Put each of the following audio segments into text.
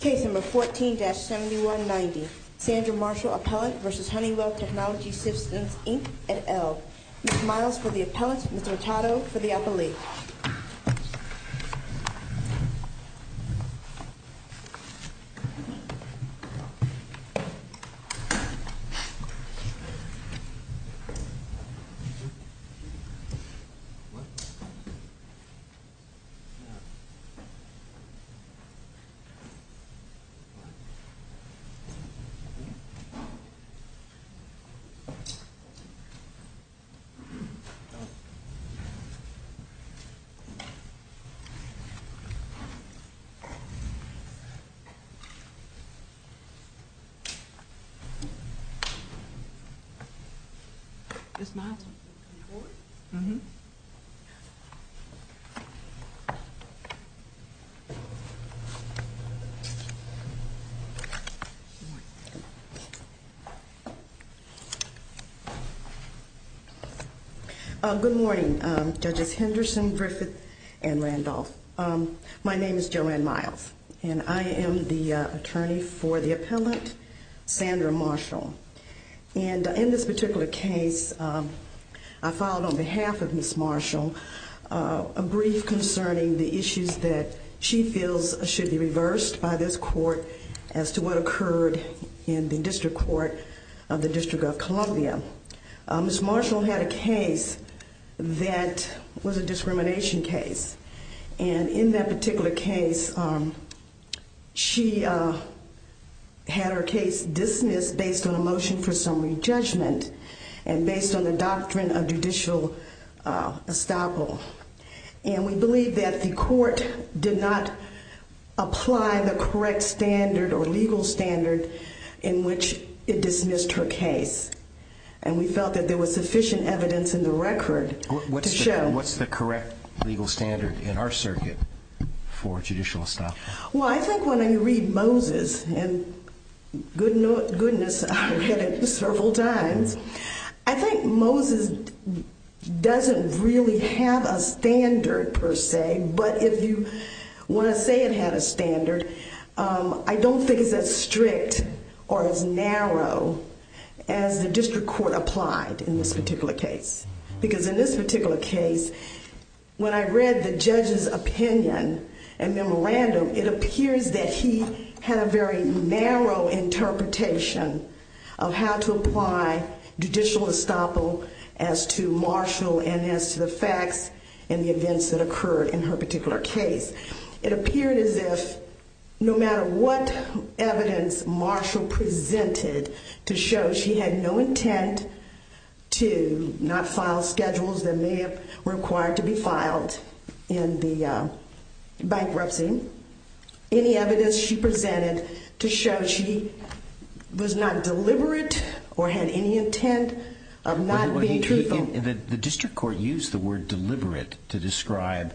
Case number 14-7190. Sandra Marshall, Appellant, v. Honeywell Technology Systems, Inc., et al. Ms. Miles for the Appellant, Mr. Otato for the Appellee. Ms. Miles? Good morning, Judges Henderson, Griffith, and Randolph. My name is Joanne Miles, and I am the Attorney for the Appellant, Sandra Marshall. And in this particular case, I filed on behalf of Ms. Marshall a brief concerning the issues that she feels should be reversed by this court as to what occurred in the District Court of the District of Columbia. Ms. Marshall had a case that was a discrimination case. And in that particular case, she had her case dismissed based on a motion for summary judgment and based on the doctrine of judicial estoppel. And we believe that the court did not apply the correct standard or legal standard in which it dismissed her case. And we felt that there was sufficient evidence in the record to show. What's the correct legal standard in our circuit for judicial estoppel? Well, I think when I read Moses, and goodness, I've read it several times, I think Moses doesn't really have a standard per se. But if you want to say it had a standard, I don't think it's as strict or as narrow as the District Court applied in this particular case. Because in this particular case, when I read the judge's opinion and memorandum, it appears that he had a very narrow interpretation of how to apply judicial estoppel as to Marshall and as to the facts and the events that occurred in her particular case. It appeared as if no matter what evidence Marshall presented to show she had no intent to not file schedules that may have required to be filed in the bankruptcy, any evidence she presented to show she was not deliberate or had any intent of not being truthful. The District Court used the word deliberate to describe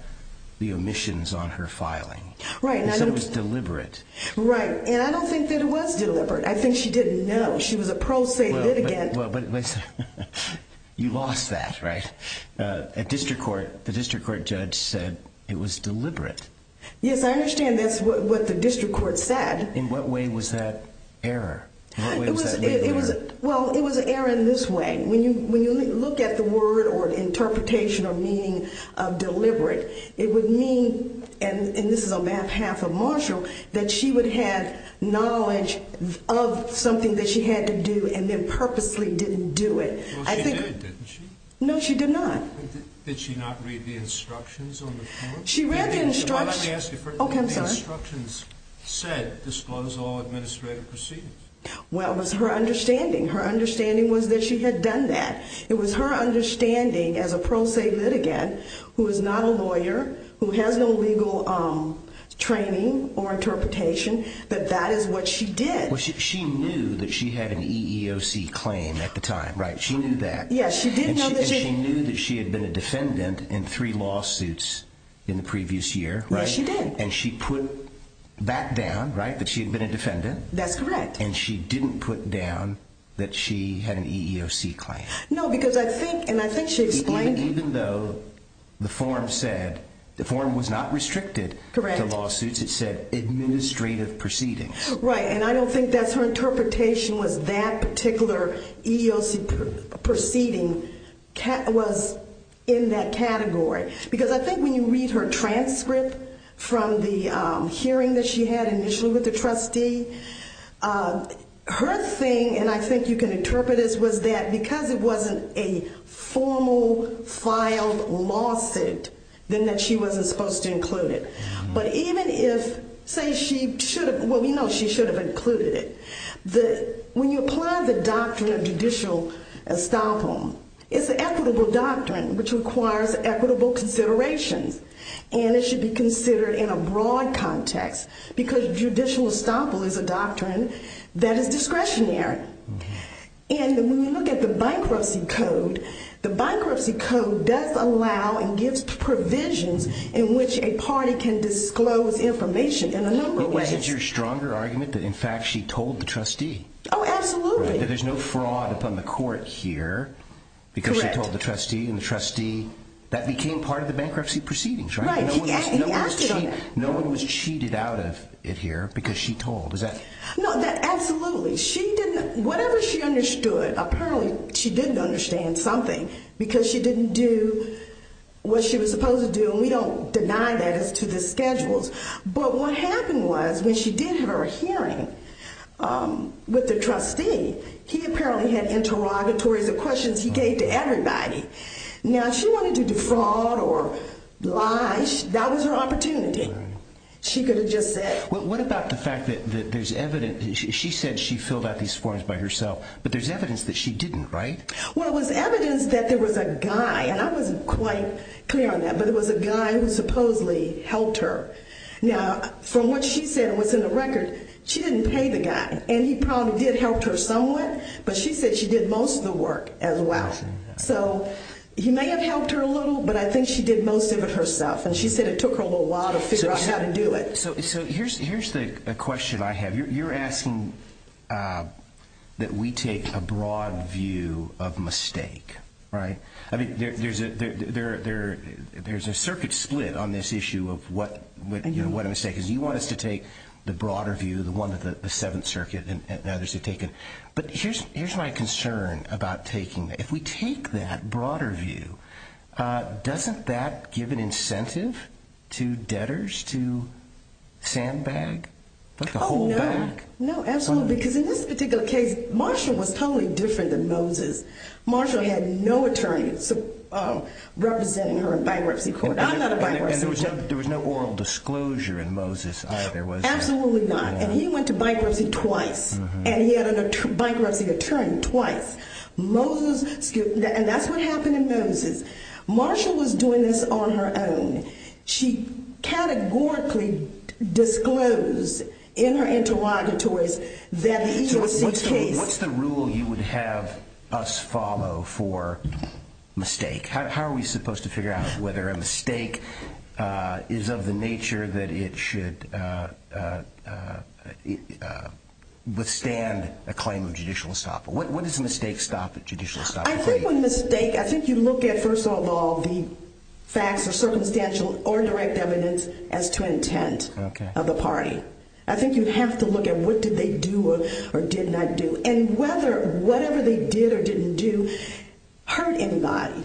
the omissions on her filing. Right. It said it was deliberate. Right. And I don't think that it was deliberate. I think she didn't know. She was a pro se litigant. You lost that, right? At District Court, the District Court judge said it was deliberate. Yes, I understand that's what the District Court said. In what way was that error? Well, it was an error in this way. When you look at the word or interpretation or meaning of deliberate, it would mean, and this is on behalf of Marshall, that she would have knowledge of something that she had to do and then purposely didn't do it. Well, she did, didn't she? No, she did not. Did she not read the instructions on the form? She read the instructions. Okay, I'm sorry. Well, it was her understanding. Her understanding was that she had done that. It was her understanding as a pro se litigant, who is not a lawyer, who has no legal training or interpretation, that that is what she did. Well, she knew that she had an EEOC claim at the time, right? She knew that. Yes, she did know that she... Yes, she did. And she put that down, right, that she had been a defendant. That's correct. And she didn't put down that she had an EEOC claim. No, because I think, and I think she explained... Even though the form said, the form was not restricted to lawsuits, it said administrative proceedings. Right, and I don't think that's her interpretation was that particular EEOC proceeding was in that category. Because I think when you read her transcript from the hearing that she had initially with the trustee, her thing, and I think you can interpret this, was that because it wasn't a formal filed lawsuit, then that she wasn't supposed to include it. But even if, say she should have, well, we know she should have included it. When you apply the doctrine of judicial estoppel, it's an equitable doctrine, which requires equitable considerations. And it should be considered in a broad context, because judicial estoppel is a doctrine that is discretionary. And when you look at the bankruptcy code, the bankruptcy code does allow and gives provisions in which a party can disclose information in a number of ways. It's your stronger argument that in fact she told the trustee. Oh, absolutely. That there's no fraud upon the court here. Correct. Because she told the trustee, and the trustee, that became part of the bankruptcy proceedings, right? Right, he acted on it. No one was cheated out of it here because she told, is that... No, absolutely. Whatever she understood, apparently she didn't understand something because she didn't do what she was supposed to do, and we don't deny that as to the schedules. But what happened was when she did her hearing with the trustee, he apparently had interrogatories of questions he gave to everybody. Now, if she wanted to defraud or lie, that was her opportunity. She could have just said... What about the fact that there's evidence, she said she filled out these forms by herself, but there's evidence that she didn't, right? Well, it was evidence that there was a guy, and I wasn't quite clear on that, but it was a guy who supposedly helped her. Now, from what she said was in the record, she didn't pay the guy, and he probably did help her somewhat, but she said she did most of the work as well. So he may have helped her a little, but I think she did most of it herself, and she said it took her a little while to figure out how to do it. So here's the question I have. You're asking that we take a broad view of mistake, right? I mean, there's a circuit split on this issue of what a mistake is. You want us to take the broader view, the one that the Seventh Circuit and others have taken, but here's my concern about taking that. If we take that broader view, doesn't that give an incentive to debtors to sandbag? Oh, no. No, absolutely, because in this particular case, Marshall was totally different than Moses. Marshall had no attorney representing her in bankruptcy court. I'm not a bankruptcy court. And there was no oral disclosure in Moses either, was there? Absolutely not, and he went to bankruptcy twice, and he had a bankruptcy attorney twice. And that's what happened in Moses. Marshall was doing this on her own. She categorically disclosed in her interrogatories that he was the case. So what's the rule you would have us follow for mistake? How are we supposed to figure out whether a mistake is of the nature that it should withstand a claim of judicial estoppel? When does a mistake stop a judicial estoppel? I think when a mistake, I think you look at, first of all, the facts or circumstantial or direct evidence as to intent of the party. I think you have to look at what did they do or did not do, and whether whatever they did or didn't do hurt anybody.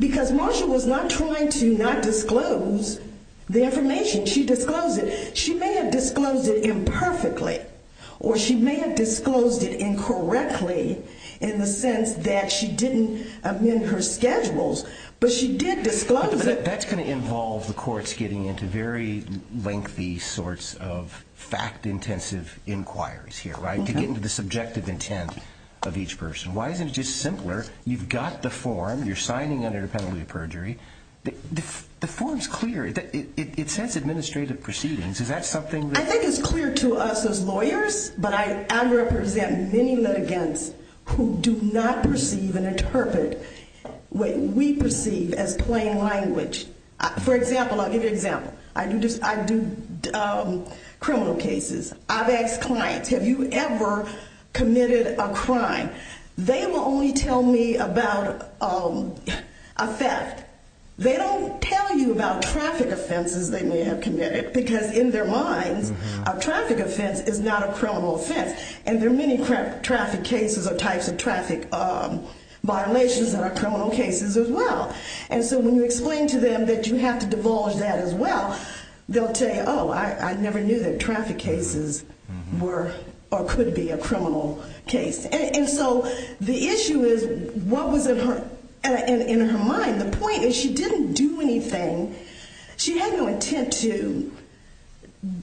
Because Marshall was not trying to not disclose the information. She disclosed it. She may have disclosed it imperfectly, or she may have disclosed it incorrectly in the sense that she didn't amend her schedules, but she did disclose it. But that's going to involve the courts getting into very lengthy sorts of fact-intensive inquiries here, right, to get into the subjective intent of each person. Why isn't it just simpler? You've got the form. You're signing under the penalty of perjury. The form's clear. It says administrative proceedings. Is that something that... I think it's clear to us as lawyers, but I represent many litigants who do not perceive and interpret what we perceive as plain language. For example, I'll give you an example. I do criminal cases. I've asked clients, have you ever committed a crime? They will only tell me about a theft. They don't tell you about traffic offenses they may have committed, because in their minds, a traffic offense is not a criminal offense. And there are many traffic cases or types of traffic violations that are criminal cases as well. And so when you explain to them that you have to divulge that as well, they'll tell you, oh, I never knew that traffic cases were or could be a criminal case. And so the issue is what was in her mind. The point is she didn't do anything. She had no intent to,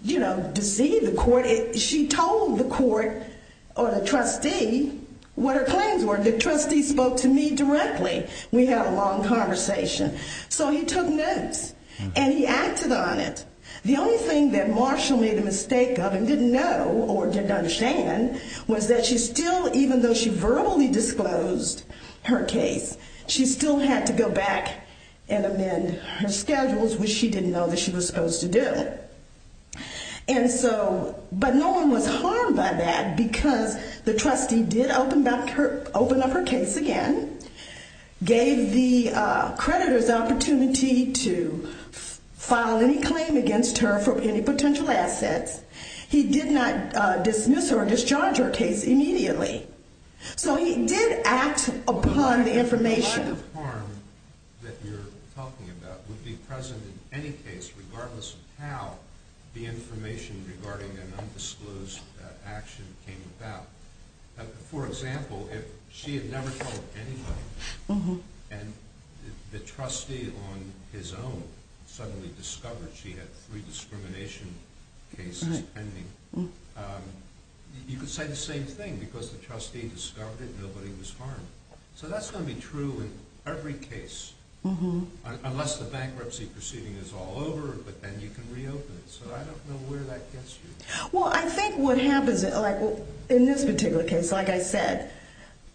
you know, deceive the court. She told the court or the trustee what her claims were. The trustee spoke to me directly. We had a long conversation. So he took notes and he acted on it. The only thing that Marshall made a mistake of and didn't know or didn't understand was that she still, even though she verbally disclosed her case, she still had to go back and amend her schedules, which she didn't know that she was supposed to do. And so, but no one was harmed by that because the trustee did open up her case again, gave the creditors the opportunity to file any claim against her for any potential assets. He did not dismiss her or discharge her case immediately. So he did act upon the information. The kind of harm that you're talking about would be present in any case, regardless of how the information regarding an undisclosed action came about. For example, if she had never told anybody and the trustee on his own suddenly discovered she had three discrimination cases pending, you could say the same thing because the trustee discovered it and nobody was harmed. So that's going to be true in every case, unless the bankruptcy proceeding is all over, but then you can reopen it. So I don't know where that gets you. Well, I think what happens in this particular case, like I said,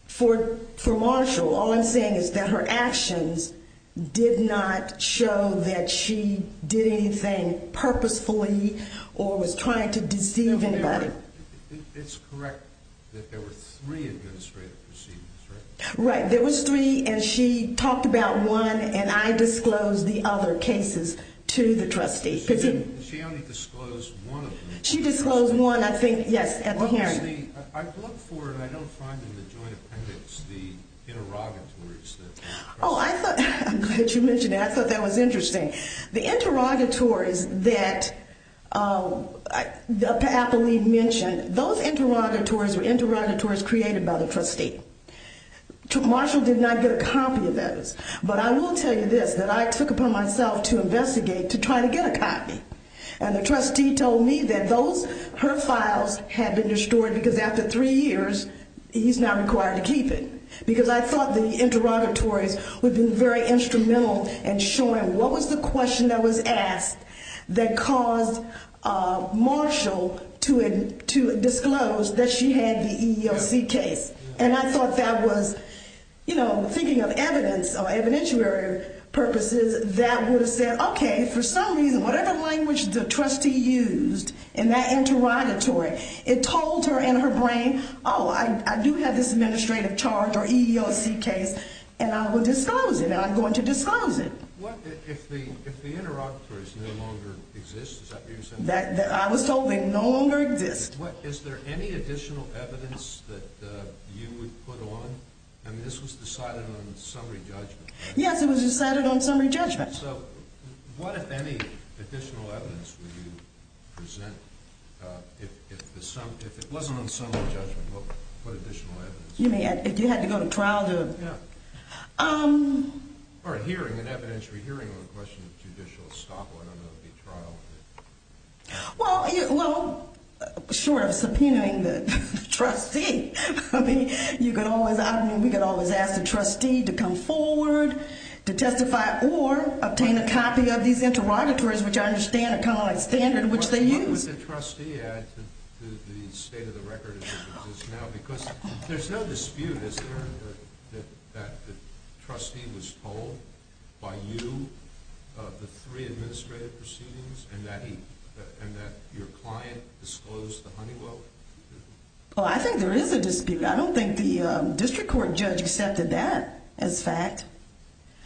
for Marshall, all I'm saying is that her actions did not show that she did anything purposefully or was trying to deceive anybody. It's correct that there were three administrative proceedings, right? Right. There was three and she talked about one and I disclosed the other cases to the trustee. She only disclosed one of them. She disclosed one, I think, yes, at the hearing. I looked for, and I don't find in the joint appendix, the interrogatories. Oh, I'm glad you mentioned that. I thought that was interesting. The interrogatories that Apolline mentioned, those interrogatories were interrogatories created by the trustee. Marshall did not get a copy of those, but I will tell you this, that I took it upon myself to investigate to try to get a copy. And the trustee told me that those, her files had been destroyed because after three years, he's not required to keep it. Because I thought the interrogatories would be very instrumental in showing what was the question that was asked that caused Marshall to disclose that she had the EEOC case. And I thought that was, you know, thinking of evidence or evidentiary purposes, that would have said, okay, for some reason, whatever language the trustee used in that interrogatory, it told her in her brain, oh, I do have this administrative charge or EEOC case and I will disclose it and I'm going to disclose it. What if the interrogatories no longer exist? I was told they no longer exist. Is there any additional evidence that you would put on? I mean, this was decided on summary judgment. Yes, it was decided on summary judgment. So what, if any, additional evidence would you present if it wasn't on summary judgment? What additional evidence? You mean, if you had to go to trial to? Yeah. Or a hearing, an evidentiary hearing on the question of judicial estoppel, I don't know if it would be trial. Well, short of subpoenaing the trustee, I mean, you could always, I mean, we could always ask the trustee to come forward to testify or obtain a copy of these interrogatories, which I understand are kind of on a standard which they use. What does the trustee add to the state of the record as it exists now? Because there's no dispute, is there, that the trustee was told by you of the three administrative proceedings and that your client disclosed the Honeywell? Well, I think there is a dispute. I don't think the district court judge accepted that as fact.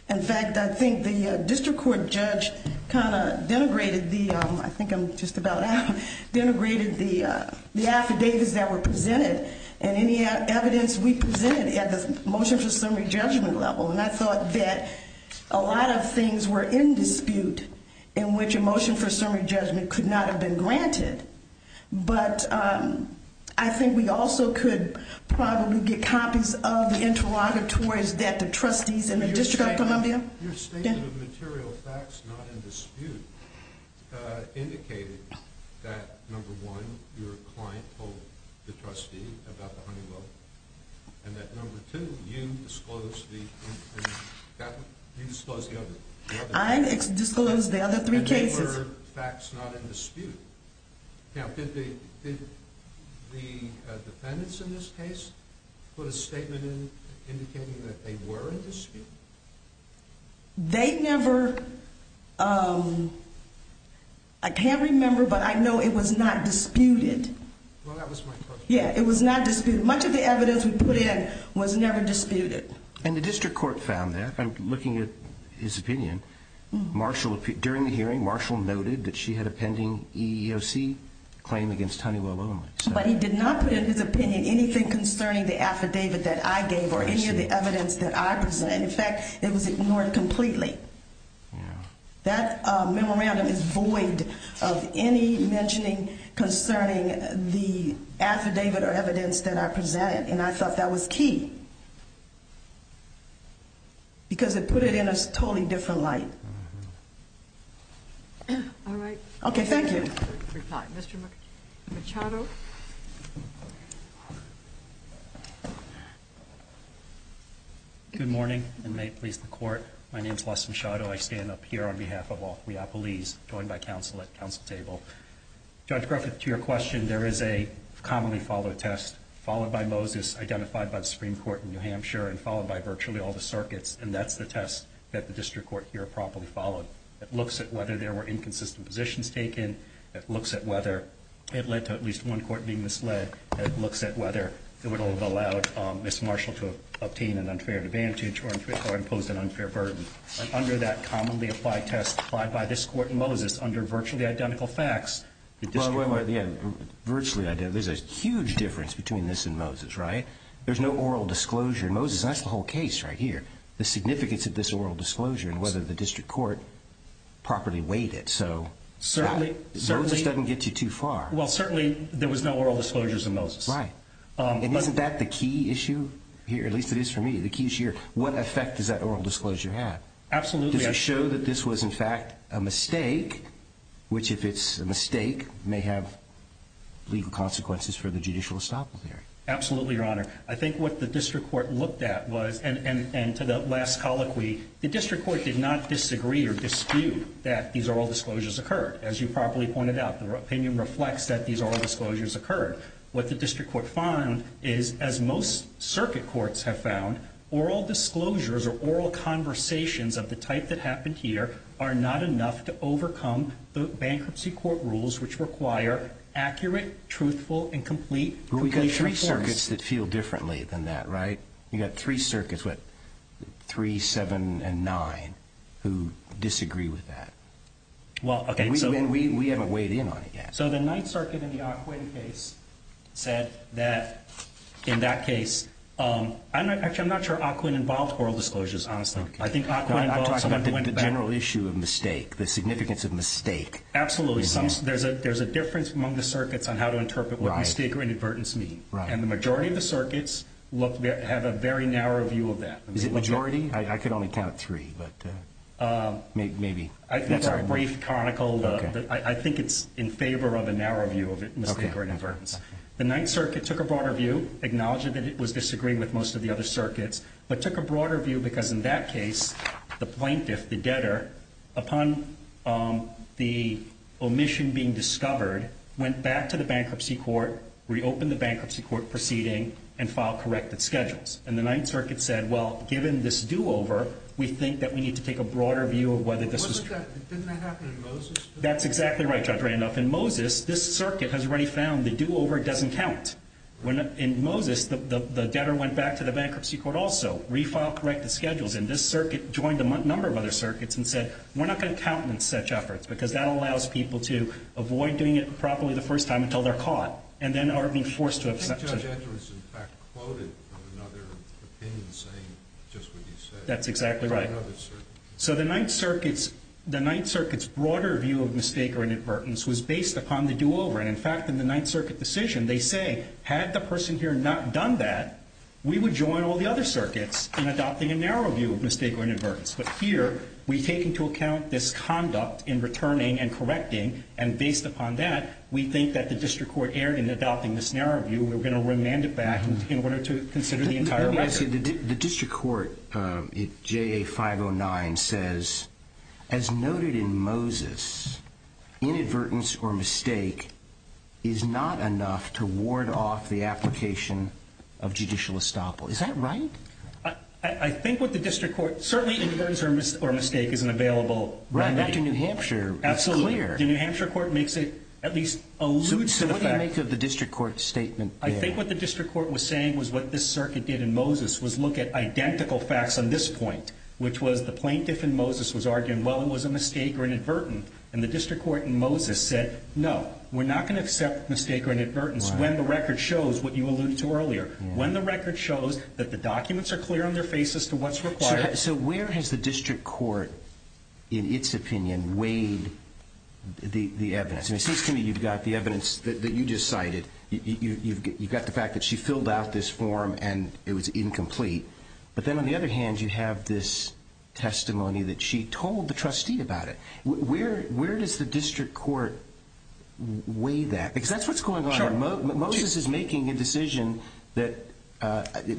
In fact, I think the district court judge kind of denigrated the, I think I'm just about out, denigrated the affidavits that were presented and any evidence we presented at the motion for summary judgment level. And I thought that a lot of things were in dispute in which a motion for summary judgment could not have been granted. But I think we also could probably get copies of the interrogatories that the trustees in the District of Columbia. Your statement of material facts not in dispute indicated that, number one, your client told the trustee about the Honeywell and that, number two, you disclosed the other. I disclosed the other three cases. Other facts not in dispute. Now, did the defendants in this case put a statement in indicating that they were in dispute? They never, I can't remember, but I know it was not disputed. Well, that was my question. Yeah, it was not disputed. Much of the evidence we put in was never disputed. And the district court found that. I'm looking at his opinion. During the hearing, Marshall noted that she had a pending EEOC claim against Honeywell only. But he did not put in his opinion anything concerning the affidavit that I gave or any of the evidence that I presented. In fact, it was ignored completely. That memorandum is void of any mentioning concerning the affidavit or evidence that I presented. And I thought that was key because it put it in a totally different light. All right. Okay, thank you. Mr. Machado. Good morning, and may it please the court. My name is Leston Machado. I stand up here on behalf of all of Leopolis, joined by counsel at council table. Judge Griffith, to your question, there is a commonly followed test, followed by Moses, identified by the Supreme Court in New Hampshire, and followed by virtually all the circuits. And that's the test that the district court here properly followed. It looks at whether there were inconsistent positions taken. It looks at whether it led to at least one court being misled. It looks at whether it would have allowed Ms. Marshall to obtain an unfair advantage or impose an unfair burden. Under that commonly applied test applied by this court and Moses, under virtually identical facts, the district court Virtually identical. There's a huge difference between this and Moses, right? There's no oral disclosure. Moses, that's the whole case right here, the significance of this oral disclosure and whether the district court properly weighed it. So Moses doesn't get you too far. Well, certainly there was no oral disclosures in Moses. Right. And isn't that the key issue here? At least it is for me. The key is here. What effect does that oral disclosure have? Absolutely. Does it show that this was in fact a mistake, which if it's a mistake may have legal consequences for the judicial estoppel here? Absolutely, Your Honor. I think what the district court looked at was, and to the last colloquy, the district court did not disagree or dispute that these oral disclosures occurred. As you properly pointed out, the opinion reflects that these oral disclosures occurred. What the district court found is, as most circuit courts have found, oral disclosures or oral conversations of the type that happened here are not enough to overcome the bankruptcy court rules, which require accurate, truthful, and complete. But we've got three circuits that feel differently than that, right? You've got three circuits, what, three, seven, and nine, who disagree with that. Well, okay. We haven't weighed in on it yet. So the Ninth Circuit in the Ockwin case said that in that case, actually I'm not sure Ockwin involved oral disclosures, honestly. I think Ockwin involved someone who went back. I'm talking about the general issue of mistake, the significance of mistake. Absolutely. There's a difference among the circuits on how to interpret what mistake or inadvertence mean. And the majority of the circuits have a very narrow view of that. Is it majority? I could only count three, but maybe. That's a brief conical. I think it's in favor of a narrow view of mistake or inadvertence. The Ninth Circuit took a broader view, acknowledged that it was disagreeing with most of the other circuits, but took a broader view because in that case, the plaintiff, the debtor, upon the omission being discovered, went back to the bankruptcy court, reopened the bankruptcy court proceeding, and filed corrected schedules. And the Ninth Circuit said, well, given this do-over, we think that we need to take a broader view of whether this was true. Didn't that happen in Moses? That's exactly right, Judge Randolph. In Moses, this circuit has already found the do-over doesn't count. In Moses, the debtor went back to the bankruptcy court also, refiled corrected schedules. And this circuit joined a number of other circuits and said, we're not going to count on such efforts because that allows people to avoid doing it properly the first time until they're caught and then are being forced to accept it. I think Judge Edwards, in fact, quoted another opinion saying just what you said. That's exactly right. So the Ninth Circuit's broader view of mistake or inadvertence was based upon the do-over. And in fact, in the Ninth Circuit decision, they say, had the person here not done that, we would join all the other circuits in adopting a narrow view of mistake or inadvertence. But here, we take into account this conduct in returning and correcting. And based upon that, we think that the district court erred in adopting this narrow view. We're going to remand it back in order to consider the entire record. The district court, JA 509, says, as noted in Moses, inadvertence or mistake is not enough to ward off the application of judicial estoppel. Is that right? I think what the district court, certainly, inadvertence or mistake is an available remedy. Right, back to New Hampshire, it's clear. Absolutely. The New Hampshire court makes it at least allude to the fact. So what do you make of the district court statement there? I think what the district court was saying was what this circuit did in Moses was look at identical facts on this point, which was the plaintiff in Moses was arguing, well, it was a mistake or inadvertent. And the district court in Moses said, no, we're not going to accept mistake or inadvertence when the record shows what you alluded to earlier, when the record shows that the documents are clear on their face as to what's required. So where has the district court, in its opinion, weighed the evidence? And it seems to me you've got the evidence that you just cited. You've got the fact that she filled out this form and it was incomplete. But then, on the other hand, you have this testimony that she told the trustee about it. Where does the district court weigh that? Because that's what's going on. Sure. Moses is making a decision that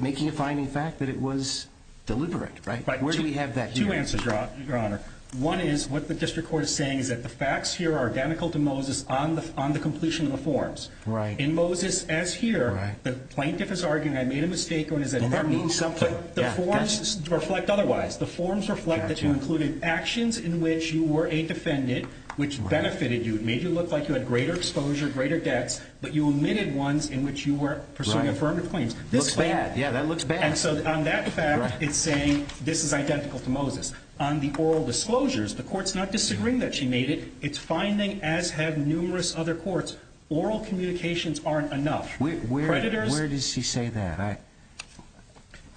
making a finding fact that it was deliberate, right? Where do we have that here? Two answers, Your Honor. One is what the district court is saying is that the facts here are identical to Moses on the completion of the forms. In Moses, as here, the plaintiff is arguing, I made a mistake, or does that mean something? The forms reflect otherwise. The forms reflect that you included actions in which you were a defendant which benefited you, made you look like you had greater exposure, greater debts, but you omitted ones in which you were pursuing affirmative claims. Looks bad. Yeah, that looks bad. And so on that fact, it's saying this is identical to Moses. On the oral disclosures, the court's not disagreeing that she made it. It's finding, as have numerous other courts, oral communications aren't enough. Where does she say that?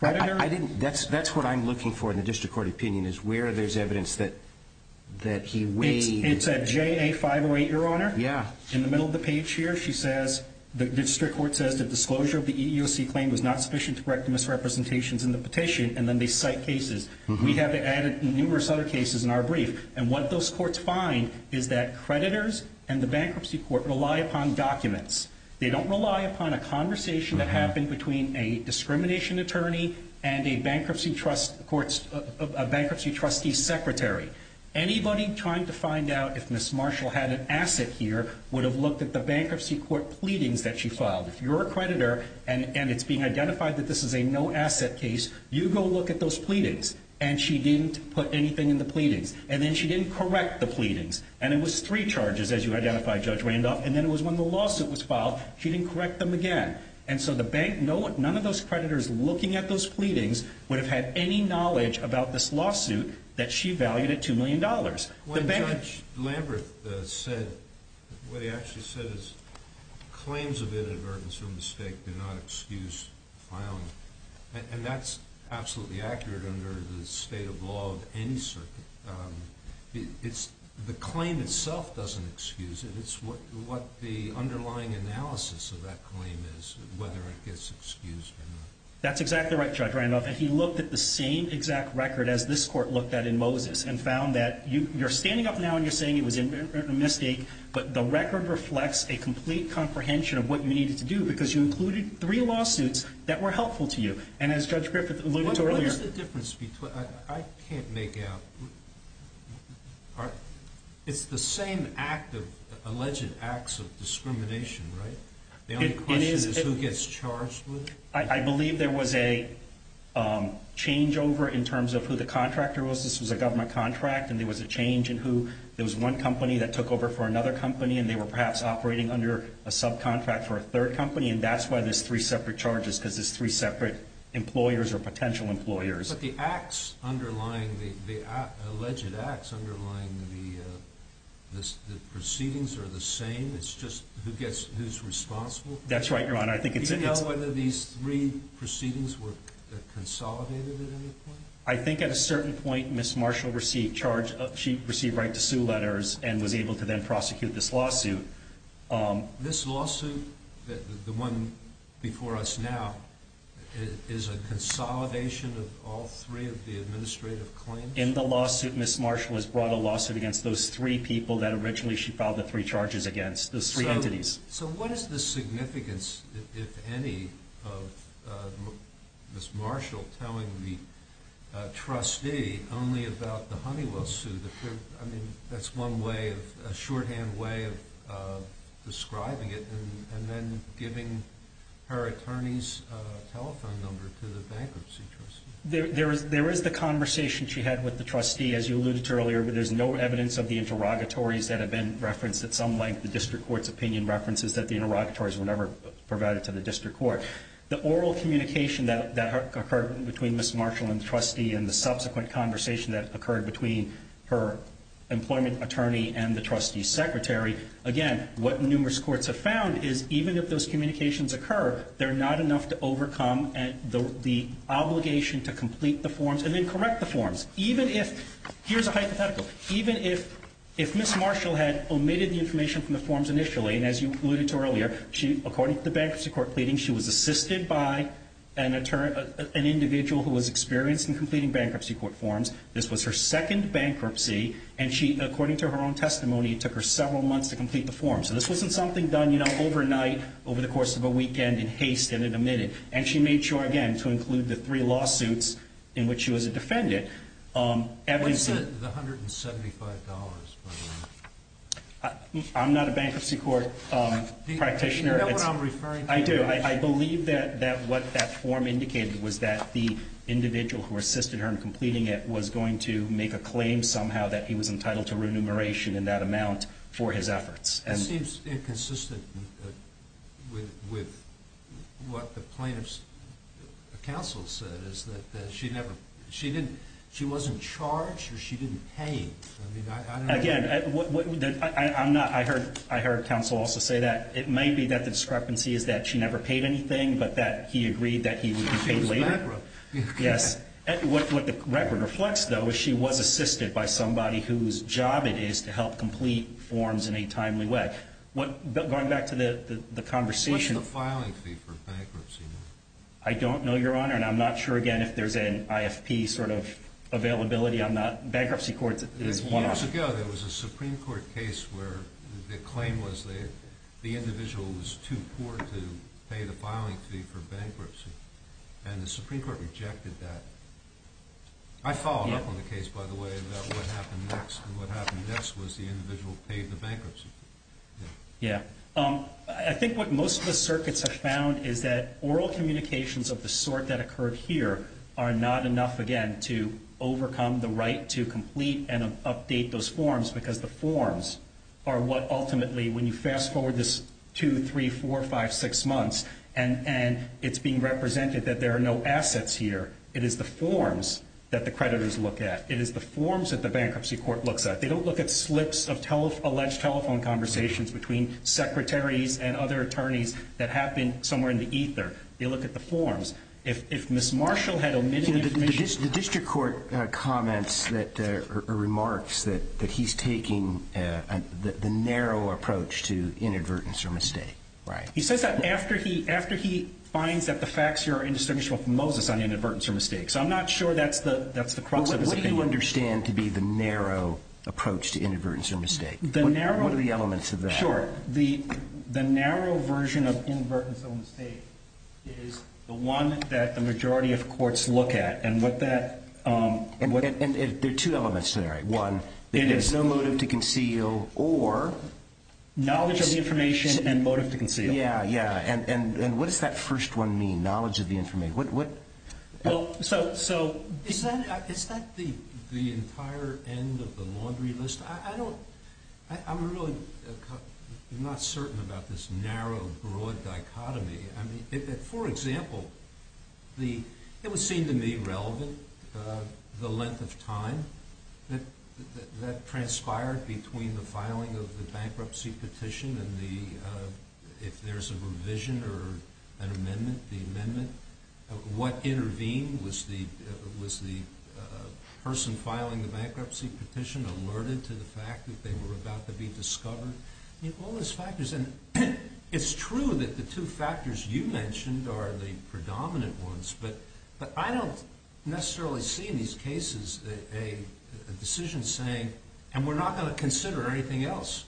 I didn't. That's what I'm looking for in the district court opinion is where there's evidence that he weighed. It's at JA 508, Your Honor. Yeah. In the middle of the page here, she says the district court says the disclosure of the EEOC claim was not sufficient to correct misrepresentations in the petition, and then they cite cases. We have added numerous other cases in our brief. And what those courts find is that creditors and the bankruptcy court rely upon documents. They don't rely upon a conversation that happened between a discrimination attorney and a bankruptcy trustee secretary. Anybody trying to find out if Ms. Marshall had an asset here would have looked at the bankruptcy court pleadings that she filed. If you're a creditor and it's being identified that this is a no-asset case, you go look at those pleadings, and she didn't put anything in the pleadings, and then she didn't correct the pleadings. And it was three charges, as you identified, Judge Randolph, and then it was when the lawsuit was filed, she didn't correct them again. And so the bank, none of those creditors looking at those pleadings would have had any knowledge about this lawsuit that she valued at $2 million. What Judge Lambert said, what he actually said is claims of inadvertence or mistake do not excuse filing. And that's absolutely accurate under the state of law of any circuit. The claim itself doesn't excuse it. It's what the underlying analysis of that claim is, whether it gets excused or not. That's exactly right, Judge Randolph. And he looked at the same exact record as this court looked at in Moses and found that you're standing up now and you're saying it was a mistake, but the record reflects a complete comprehension of what you needed to do because you included three lawsuits that were helpful to you. And as Judge Griffith alluded to earlier— What is the difference between—I can't make out. It's the same act of—alleged acts of discrimination, right? The only question is who gets charged with it? I believe there was a changeover in terms of who the contractor was. This was a government contract, and there was a change in who— there was one company that took over for another company, and they were perhaps operating under a subcontract for a third company, and that's why there's three separate charges because there's three separate employers or potential employers. But the acts underlying—the alleged acts underlying the proceedings are the same? That's right, Your Honor. Do you know whether these three proceedings were consolidated at any point? I think at a certain point Ms. Marshall received right to sue letters and was able to then prosecute this lawsuit. This lawsuit, the one before us now, is a consolidation of all three of the administrative claims? In the lawsuit, Ms. Marshall has brought a lawsuit against those three people that originally she filed the three charges against, those three entities. So what is the significance, if any, of Ms. Marshall telling the trustee only about the Honeywell suit? I mean, that's one way of—a shorthand way of describing it, and then giving her attorney's telephone number to the bankruptcy trustee. There is the conversation she had with the trustee, as you alluded to earlier, but there's no evidence of the interrogatories that have been referenced at some length. The district court's opinion references that the interrogatories were never provided to the district court. The oral communication that occurred between Ms. Marshall and the trustee and the subsequent conversation that occurred between her employment attorney and the trustee's secretary, again, what numerous courts have found is even if those communications occur, they're not enough to overcome the obligation to complete the forms and then correct the forms. Here's a hypothetical. Even if Ms. Marshall had omitted the information from the forms initially, and as you alluded to earlier, according to the bankruptcy court pleading, she was assisted by an individual who was experienced in completing bankruptcy court forms. This was her second bankruptcy, and according to her own testimony, it took her several months to complete the forms. So this wasn't something done overnight over the course of a weekend in haste and in a minute. And she made sure, again, to include the three lawsuits in which she was a defendant. What's the $175? I'm not a bankruptcy court practitioner. Do you know what I'm referring to? I do. I believe that what that form indicated was that the individual who assisted her in completing it was going to make a claim somehow that he was entitled to remuneration in that amount for his efforts. It seems inconsistent with what the plaintiff's counsel said, is that she wasn't charged or she didn't pay. Again, I heard counsel also say that. It may be that the discrepancy is that she never paid anything, but that he agreed that he would be paid later. Yes. What the record reflects, though, is she was assisted by somebody whose job it is to help complete forms in a timely way. Going back to the conversation. What's the filing fee for bankruptcy? I don't know, Your Honor, and I'm not sure, again, if there's an IFP sort of availability. I'm not. Bankruptcy court is one of them. Years ago, there was a Supreme Court case where the claim was the individual was too poor to pay the filing fee for bankruptcy, and the Supreme Court rejected that. I followed up on the case, by the way, about what happened next, and what happened next was the individual paid the bankruptcy fee. Yeah. I think what most of the circuits have found is that oral communications of the sort that occurred here are not enough, again, to overcome the right to complete and update those forms because the forms are what ultimately, when you fast forward this two, three, four, five, six months, and it's being represented that there are no assets here. It is the forms that the creditors look at. It is the forms that the bankruptcy court looks at. They don't look at slips of alleged telephone conversations between secretaries and other attorneys that have been somewhere in the ether. They look at the forms. If Ms. Marshall had omitted information. The district court comments or remarks that he's taking the narrow approach to inadvertence or mistake. Right. He says that after he finds that the facts here are indistinguishable from Moses on inadvertence or mistake. So I'm not sure that's the crux of his opinion. What do you understand to be the narrow approach to inadvertence or mistake? What are the elements of that? Sure. The narrow version of inadvertence or mistake is the one that the majority of courts look at, and what that... And there are two elements there, right? One, there is no motive to conceal or... Yeah, yeah. And what does that first one mean, knowledge of the information? Well, so... Is that the entire end of the laundry list? I don't... I'm really not certain about this narrow, broad dichotomy. I mean, for example, it would seem to me relevant, the length of time that transpired between the filing of the bankruptcy petition and if there's a revision or an amendment, the amendment. What intervened? Was the person filing the bankruptcy petition alerted to the fact that they were about to be discovered? I mean, all those factors. And it's true that the two factors you mentioned are the predominant ones, but I don't necessarily see in these cases a decision saying, and we're not going to consider anything else.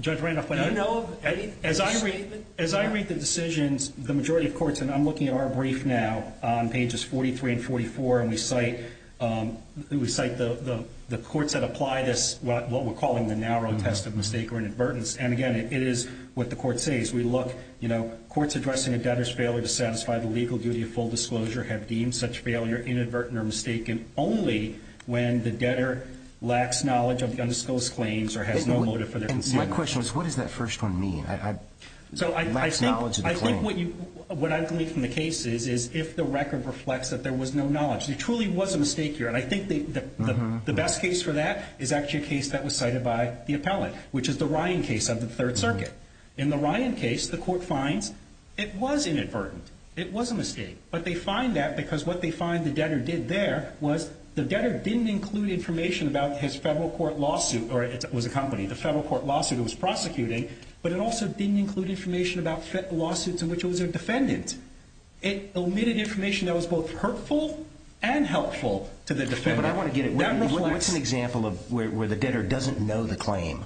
Judge Randolph... Do you know of any? As I read the decisions, the majority of courts, and I'm looking at our brief now on pages 43 and 44, and we cite the courts that apply this, what we're calling the narrow test of mistake or inadvertence. And again, it is what the court says. We look, you know, courts addressing a debtor's failure to satisfy the legal duty of full disclosure have deemed such failure inadvertent or mistaken only when the debtor lacks knowledge of the undisclosed claims or has no motive for their consideration. And my question is, what does that first one mean? Lacks knowledge of the claim. So I think what I've gleaned from the cases is if the record reflects that there was no knowledge. There truly was a mistake here, and I think the best case for that is actually a case that was cited by the appellate, which is the Ryan case of the Third Circuit. In the Ryan case, the court finds it was inadvertent. It was a mistake. But they find that because what they find the debtor did there was the debtor didn't include information about his federal court lawsuit, or it was a company, the federal court lawsuit it was prosecuting, but it also didn't include information about lawsuits in which it was a defendant. It omitted information that was both hurtful and helpful to the defendant. What's an example of where the debtor doesn't know the claim?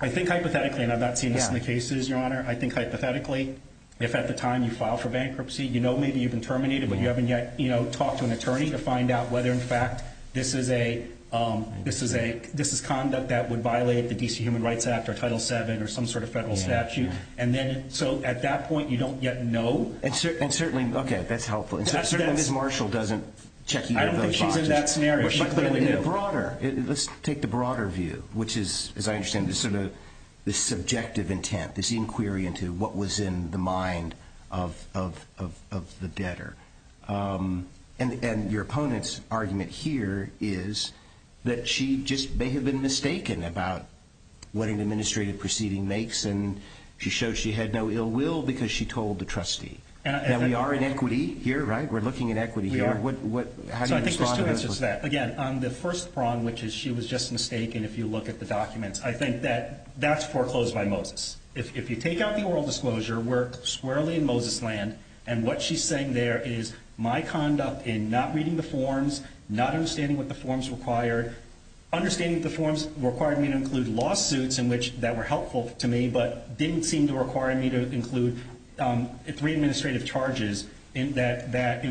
I think hypothetically, and I've not seen this in the cases, Your Honor, I think hypothetically if at the time you file for bankruptcy you know maybe you've been terminated but you haven't yet, you know, talked to an attorney to find out whether, in fact, this is conduct that would violate the D.C. Human Rights Act or Title VII or some sort of federal statute, and then so at that point you don't yet know. And certainly, okay, that's helpful. And certainly Ms. Marshall doesn't check either of those boxes. I don't think she's in that scenario. But in the broader, let's take the broader view, which is, as I understand it, this sort of subjective intent, this inquiry into what was in the mind of the debtor. And your opponent's argument here is that she just may have been mistaken about what an administrative proceeding makes, and she showed she had no ill will because she told the trustee. Now, we are in equity here, right? We're looking at equity here. We are. How do you respond to this? So I think there's two answers to that. Again, on the first prong, which is she was just mistaken if you look at the documents, I think that that's foreclosed by Moses. If you take out the oral disclosure, we're squarely in Moses' land, and what she's saying there is my conduct in not reading the forms, not understanding what the forms required, understanding the forms required me to include lawsuits that were helpful to me but didn't seem to require me to include three administrative charges in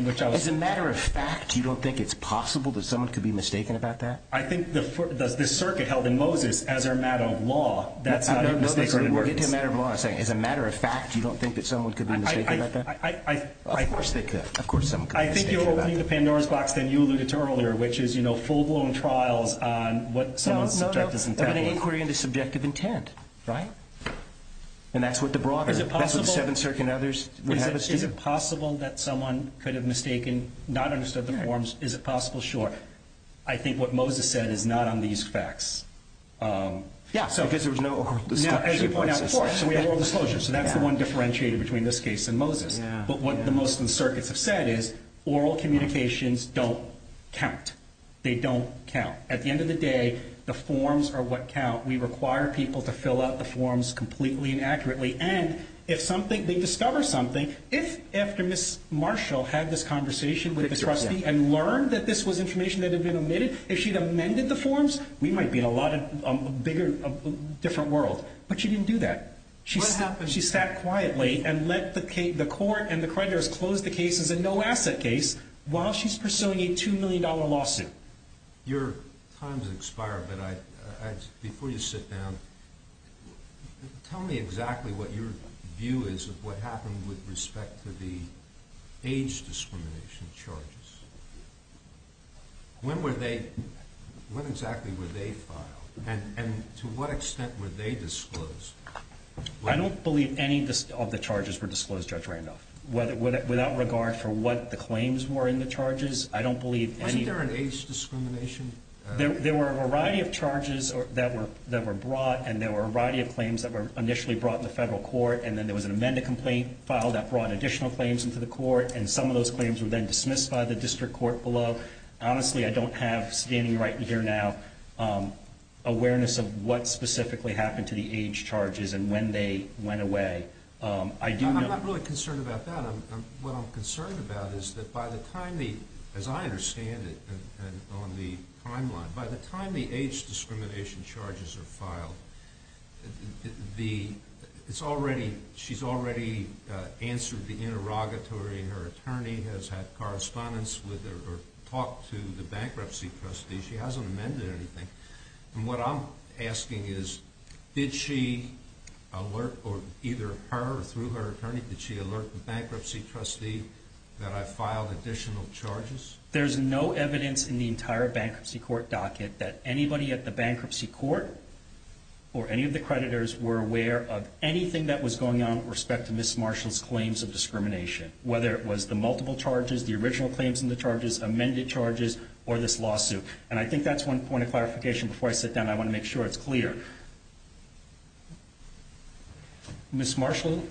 which I was. As a matter of fact, you don't think it's possible that someone could be mistaken about that? I think the circuit held in Moses, as a matter of law, that's how he was mistaken. We'll get to the matter of law in a second. As a matter of fact, you don't think that someone could be mistaken about that? Of course they could. Of course someone could be mistaken about that. I think you're opening the Pandora's box that you alluded to earlier, which is, you know, full-blown trials on what someone's subjective intent was. No, no, but an inquiry into subjective intent, right? And that's what the broader, that's what the Seventh Circuit and others had to do. Is it possible that someone could have mistaken, not understood the forms? Is it possible? Sure. I think what Moses said is not on these facts. Yeah, because there was no oral disclosure. As you pointed out before, we had oral disclosure, so that's the one differentiated between this case and Moses. But what the most of the circuits have said is oral communications don't count. They don't count. At the end of the day, the forms are what count. We require people to fill out the forms completely and accurately, and if something, they discover something, if after Ms. Marshall had this conversation with the trustee and learned that this was information that had been omitted, if she'd amended the forms, we might be in a lot of bigger, different world. But she didn't do that. What happened? She sat quietly and let the court and the creditors close the case as a no-asset case while she's pursuing a $2 million lawsuit. Your time has expired, but before you sit down, tell me exactly what your view is of what happened with respect to the age discrimination charges. When exactly were they filed, and to what extent were they disclosed? I don't believe any of the charges were disclosed, Judge Randolph, without regard for what the claims were in the charges. Wasn't there an age discrimination? There were a variety of charges that were brought, and there were a variety of claims that were initially brought to the federal court, and then there was an amended complaint file that brought additional claims into the court, and some of those claims were then dismissed by the district court below. Honestly, I don't have, standing right here now, awareness of what specifically happened to the age charges and when they went away. I'm not really concerned about that. What I'm concerned about is that by the time, as I understand it, on the timeline, by the time the age discrimination charges are filed, she's already answered the interrogatory, her attorney has had correspondence with her or talked to the bankruptcy trustee. She hasn't amended anything. And what I'm asking is, did she alert, or either her or through her attorney, did she alert the bankruptcy trustee that I filed additional charges? There's no evidence in the entire bankruptcy court docket that anybody at the bankruptcy court or any of the creditors were aware of anything that was going on with respect to Ms. Marshall's claims of discrimination, whether it was the multiple charges, the original claims in the charges, amended charges, or this lawsuit. And I think that's one point of clarification. Before I sit down, I want to make sure it's clear. Ms. Marshall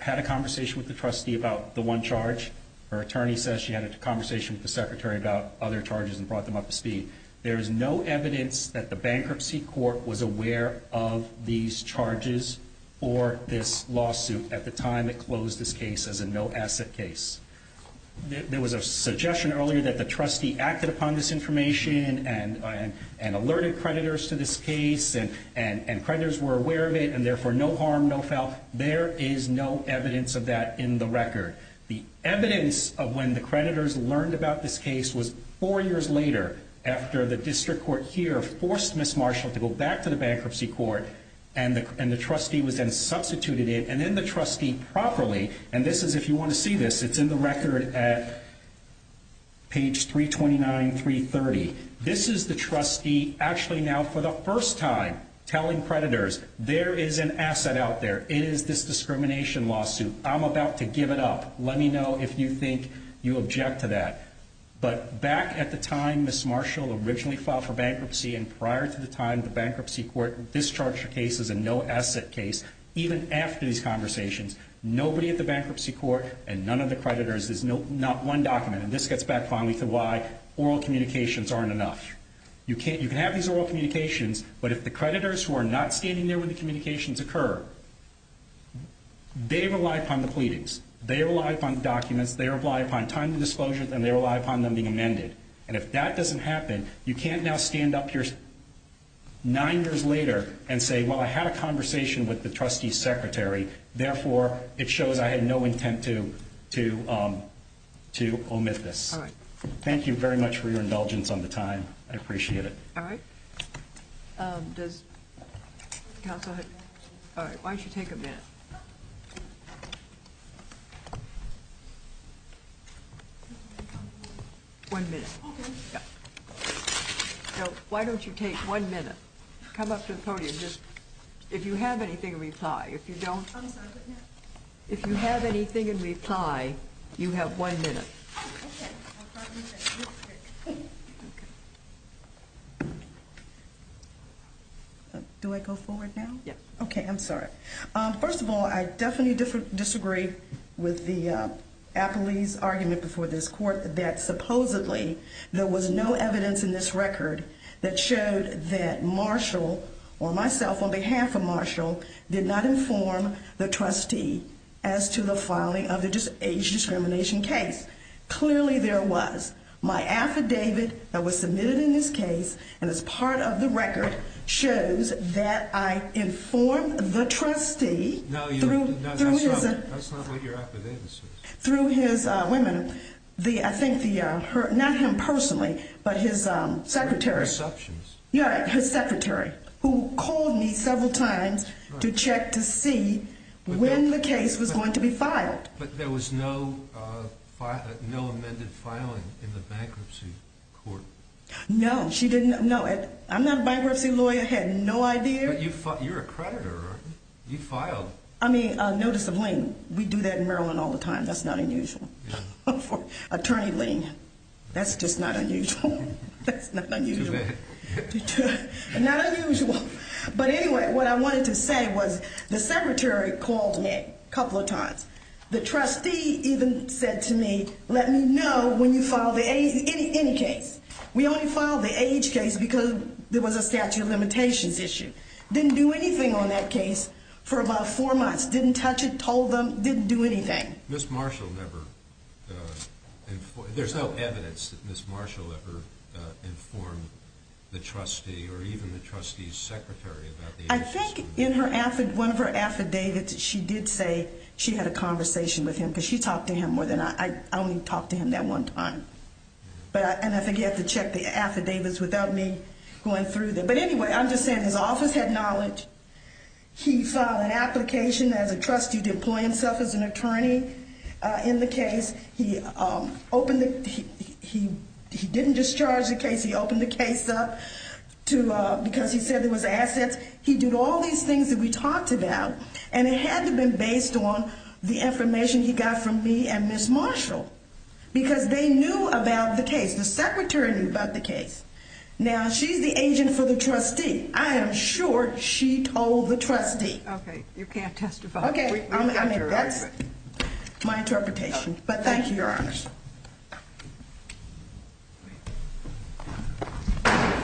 had a conversation with the trustee about the one charge. Her attorney says she had a conversation with the secretary about other charges and brought them up to speed. There is no evidence that the bankruptcy court was aware of these charges or this lawsuit at the time it closed this case as a no-asset case. There was a suggestion earlier that the trustee acted upon this information and alerted creditors to this case and creditors were aware of it and therefore no harm, no foul. There is no evidence of that in the record. The evidence of when the creditors learned about this case was four years later after the district court here forced Ms. Marshall to go back to the bankruptcy court and the trustee was then substituted in and then the trustee properly, and this is, if you want to see this, it's in the record at page 329, 330. This is the trustee actually now for the first time telling creditors there is an asset out there. It is this discrimination lawsuit. I'm about to give it up. Let me know if you think you object to that. But back at the time Ms. Marshall originally filed for bankruptcy and prior to the time the bankruptcy court discharged her case as a no-asset case, even after these conversations, nobody at the bankruptcy court and none of the creditors, there's not one document, and this gets back finally to why oral communications aren't enough. You can have these oral communications, but if the creditors who are not standing there when the communications occur, they rely upon the pleadings, they rely upon the documents, they rely upon time of disclosure, and they rely upon them being amended. And if that doesn't happen, you can't now stand up here nine years later and say, well, I had a conversation with the trustee's secretary, therefore it shows I had no intent to omit this. All right. Thank you very much for your indulgence on the time. I appreciate it. All right. Does counsel have any questions? All right. Why don't you take a minute? One minute. Okay. Why don't you take one minute? Come up to the podium. If you have anything in reply. If you don't. If you have anything in reply, you have one minute. Do I go forward now? Yes. Okay. I'm sorry. First of all, I definitely disagree with the appellee's argument before this court that supposedly there was no evidence in this record that showed that Marshall or myself on behalf of Marshall did not inform the trustee as to the filing of the age discrimination case. Clearly there was. My affidavit that was submitted in this case and is part of the record shows that I informed the trustee. No, that's not what your affidavit says. Through his women. I think not him personally, but his secretary. Receptions. Yeah, his secretary, who called me several times to check to see when the case was going to be filed. But there was no amended filing in the bankruptcy court. No, she didn't know it. I'm not a bankruptcy lawyer. I had no idea. But you're a creditor, aren't you? You filed. I mean, a notice of lien. We do that in Maryland all the time. That's not unusual. Attorney lien. That's just not unusual. That's not unusual. Not unusual. But anyway, what I wanted to say was the secretary called me a couple of times. The trustee even said to me, let me know when you file the age, any case. We only filed the age case because there was a statute of limitations issue. Didn't do anything on that case for about four months. Didn't touch it, told them, didn't do anything. Ms. Marshall never informed. There's no evidence that Ms. Marshall ever informed the trustee or even the trustee's secretary about the age. I think in one of her affidavits she did say she had a conversation with him because she talked to him more than I. I only talked to him that one time. And I think you have to check the affidavits without me going through them. But anyway, I'm just saying his office had knowledge. He filed an application as a trustee to employ himself as an attorney in the case. He didn't discharge the case. He opened the case up because he said there was assets. He did all these things that we talked about, and it had to have been based on the information he got from me and Ms. Marshall. Because they knew about the case. The secretary knew about the case. Now, she's the agent for the trustee. I am sure she told the trustee. Okay. You can't testify. Okay. I mean, that's my interpretation. But thank you, Your Honor.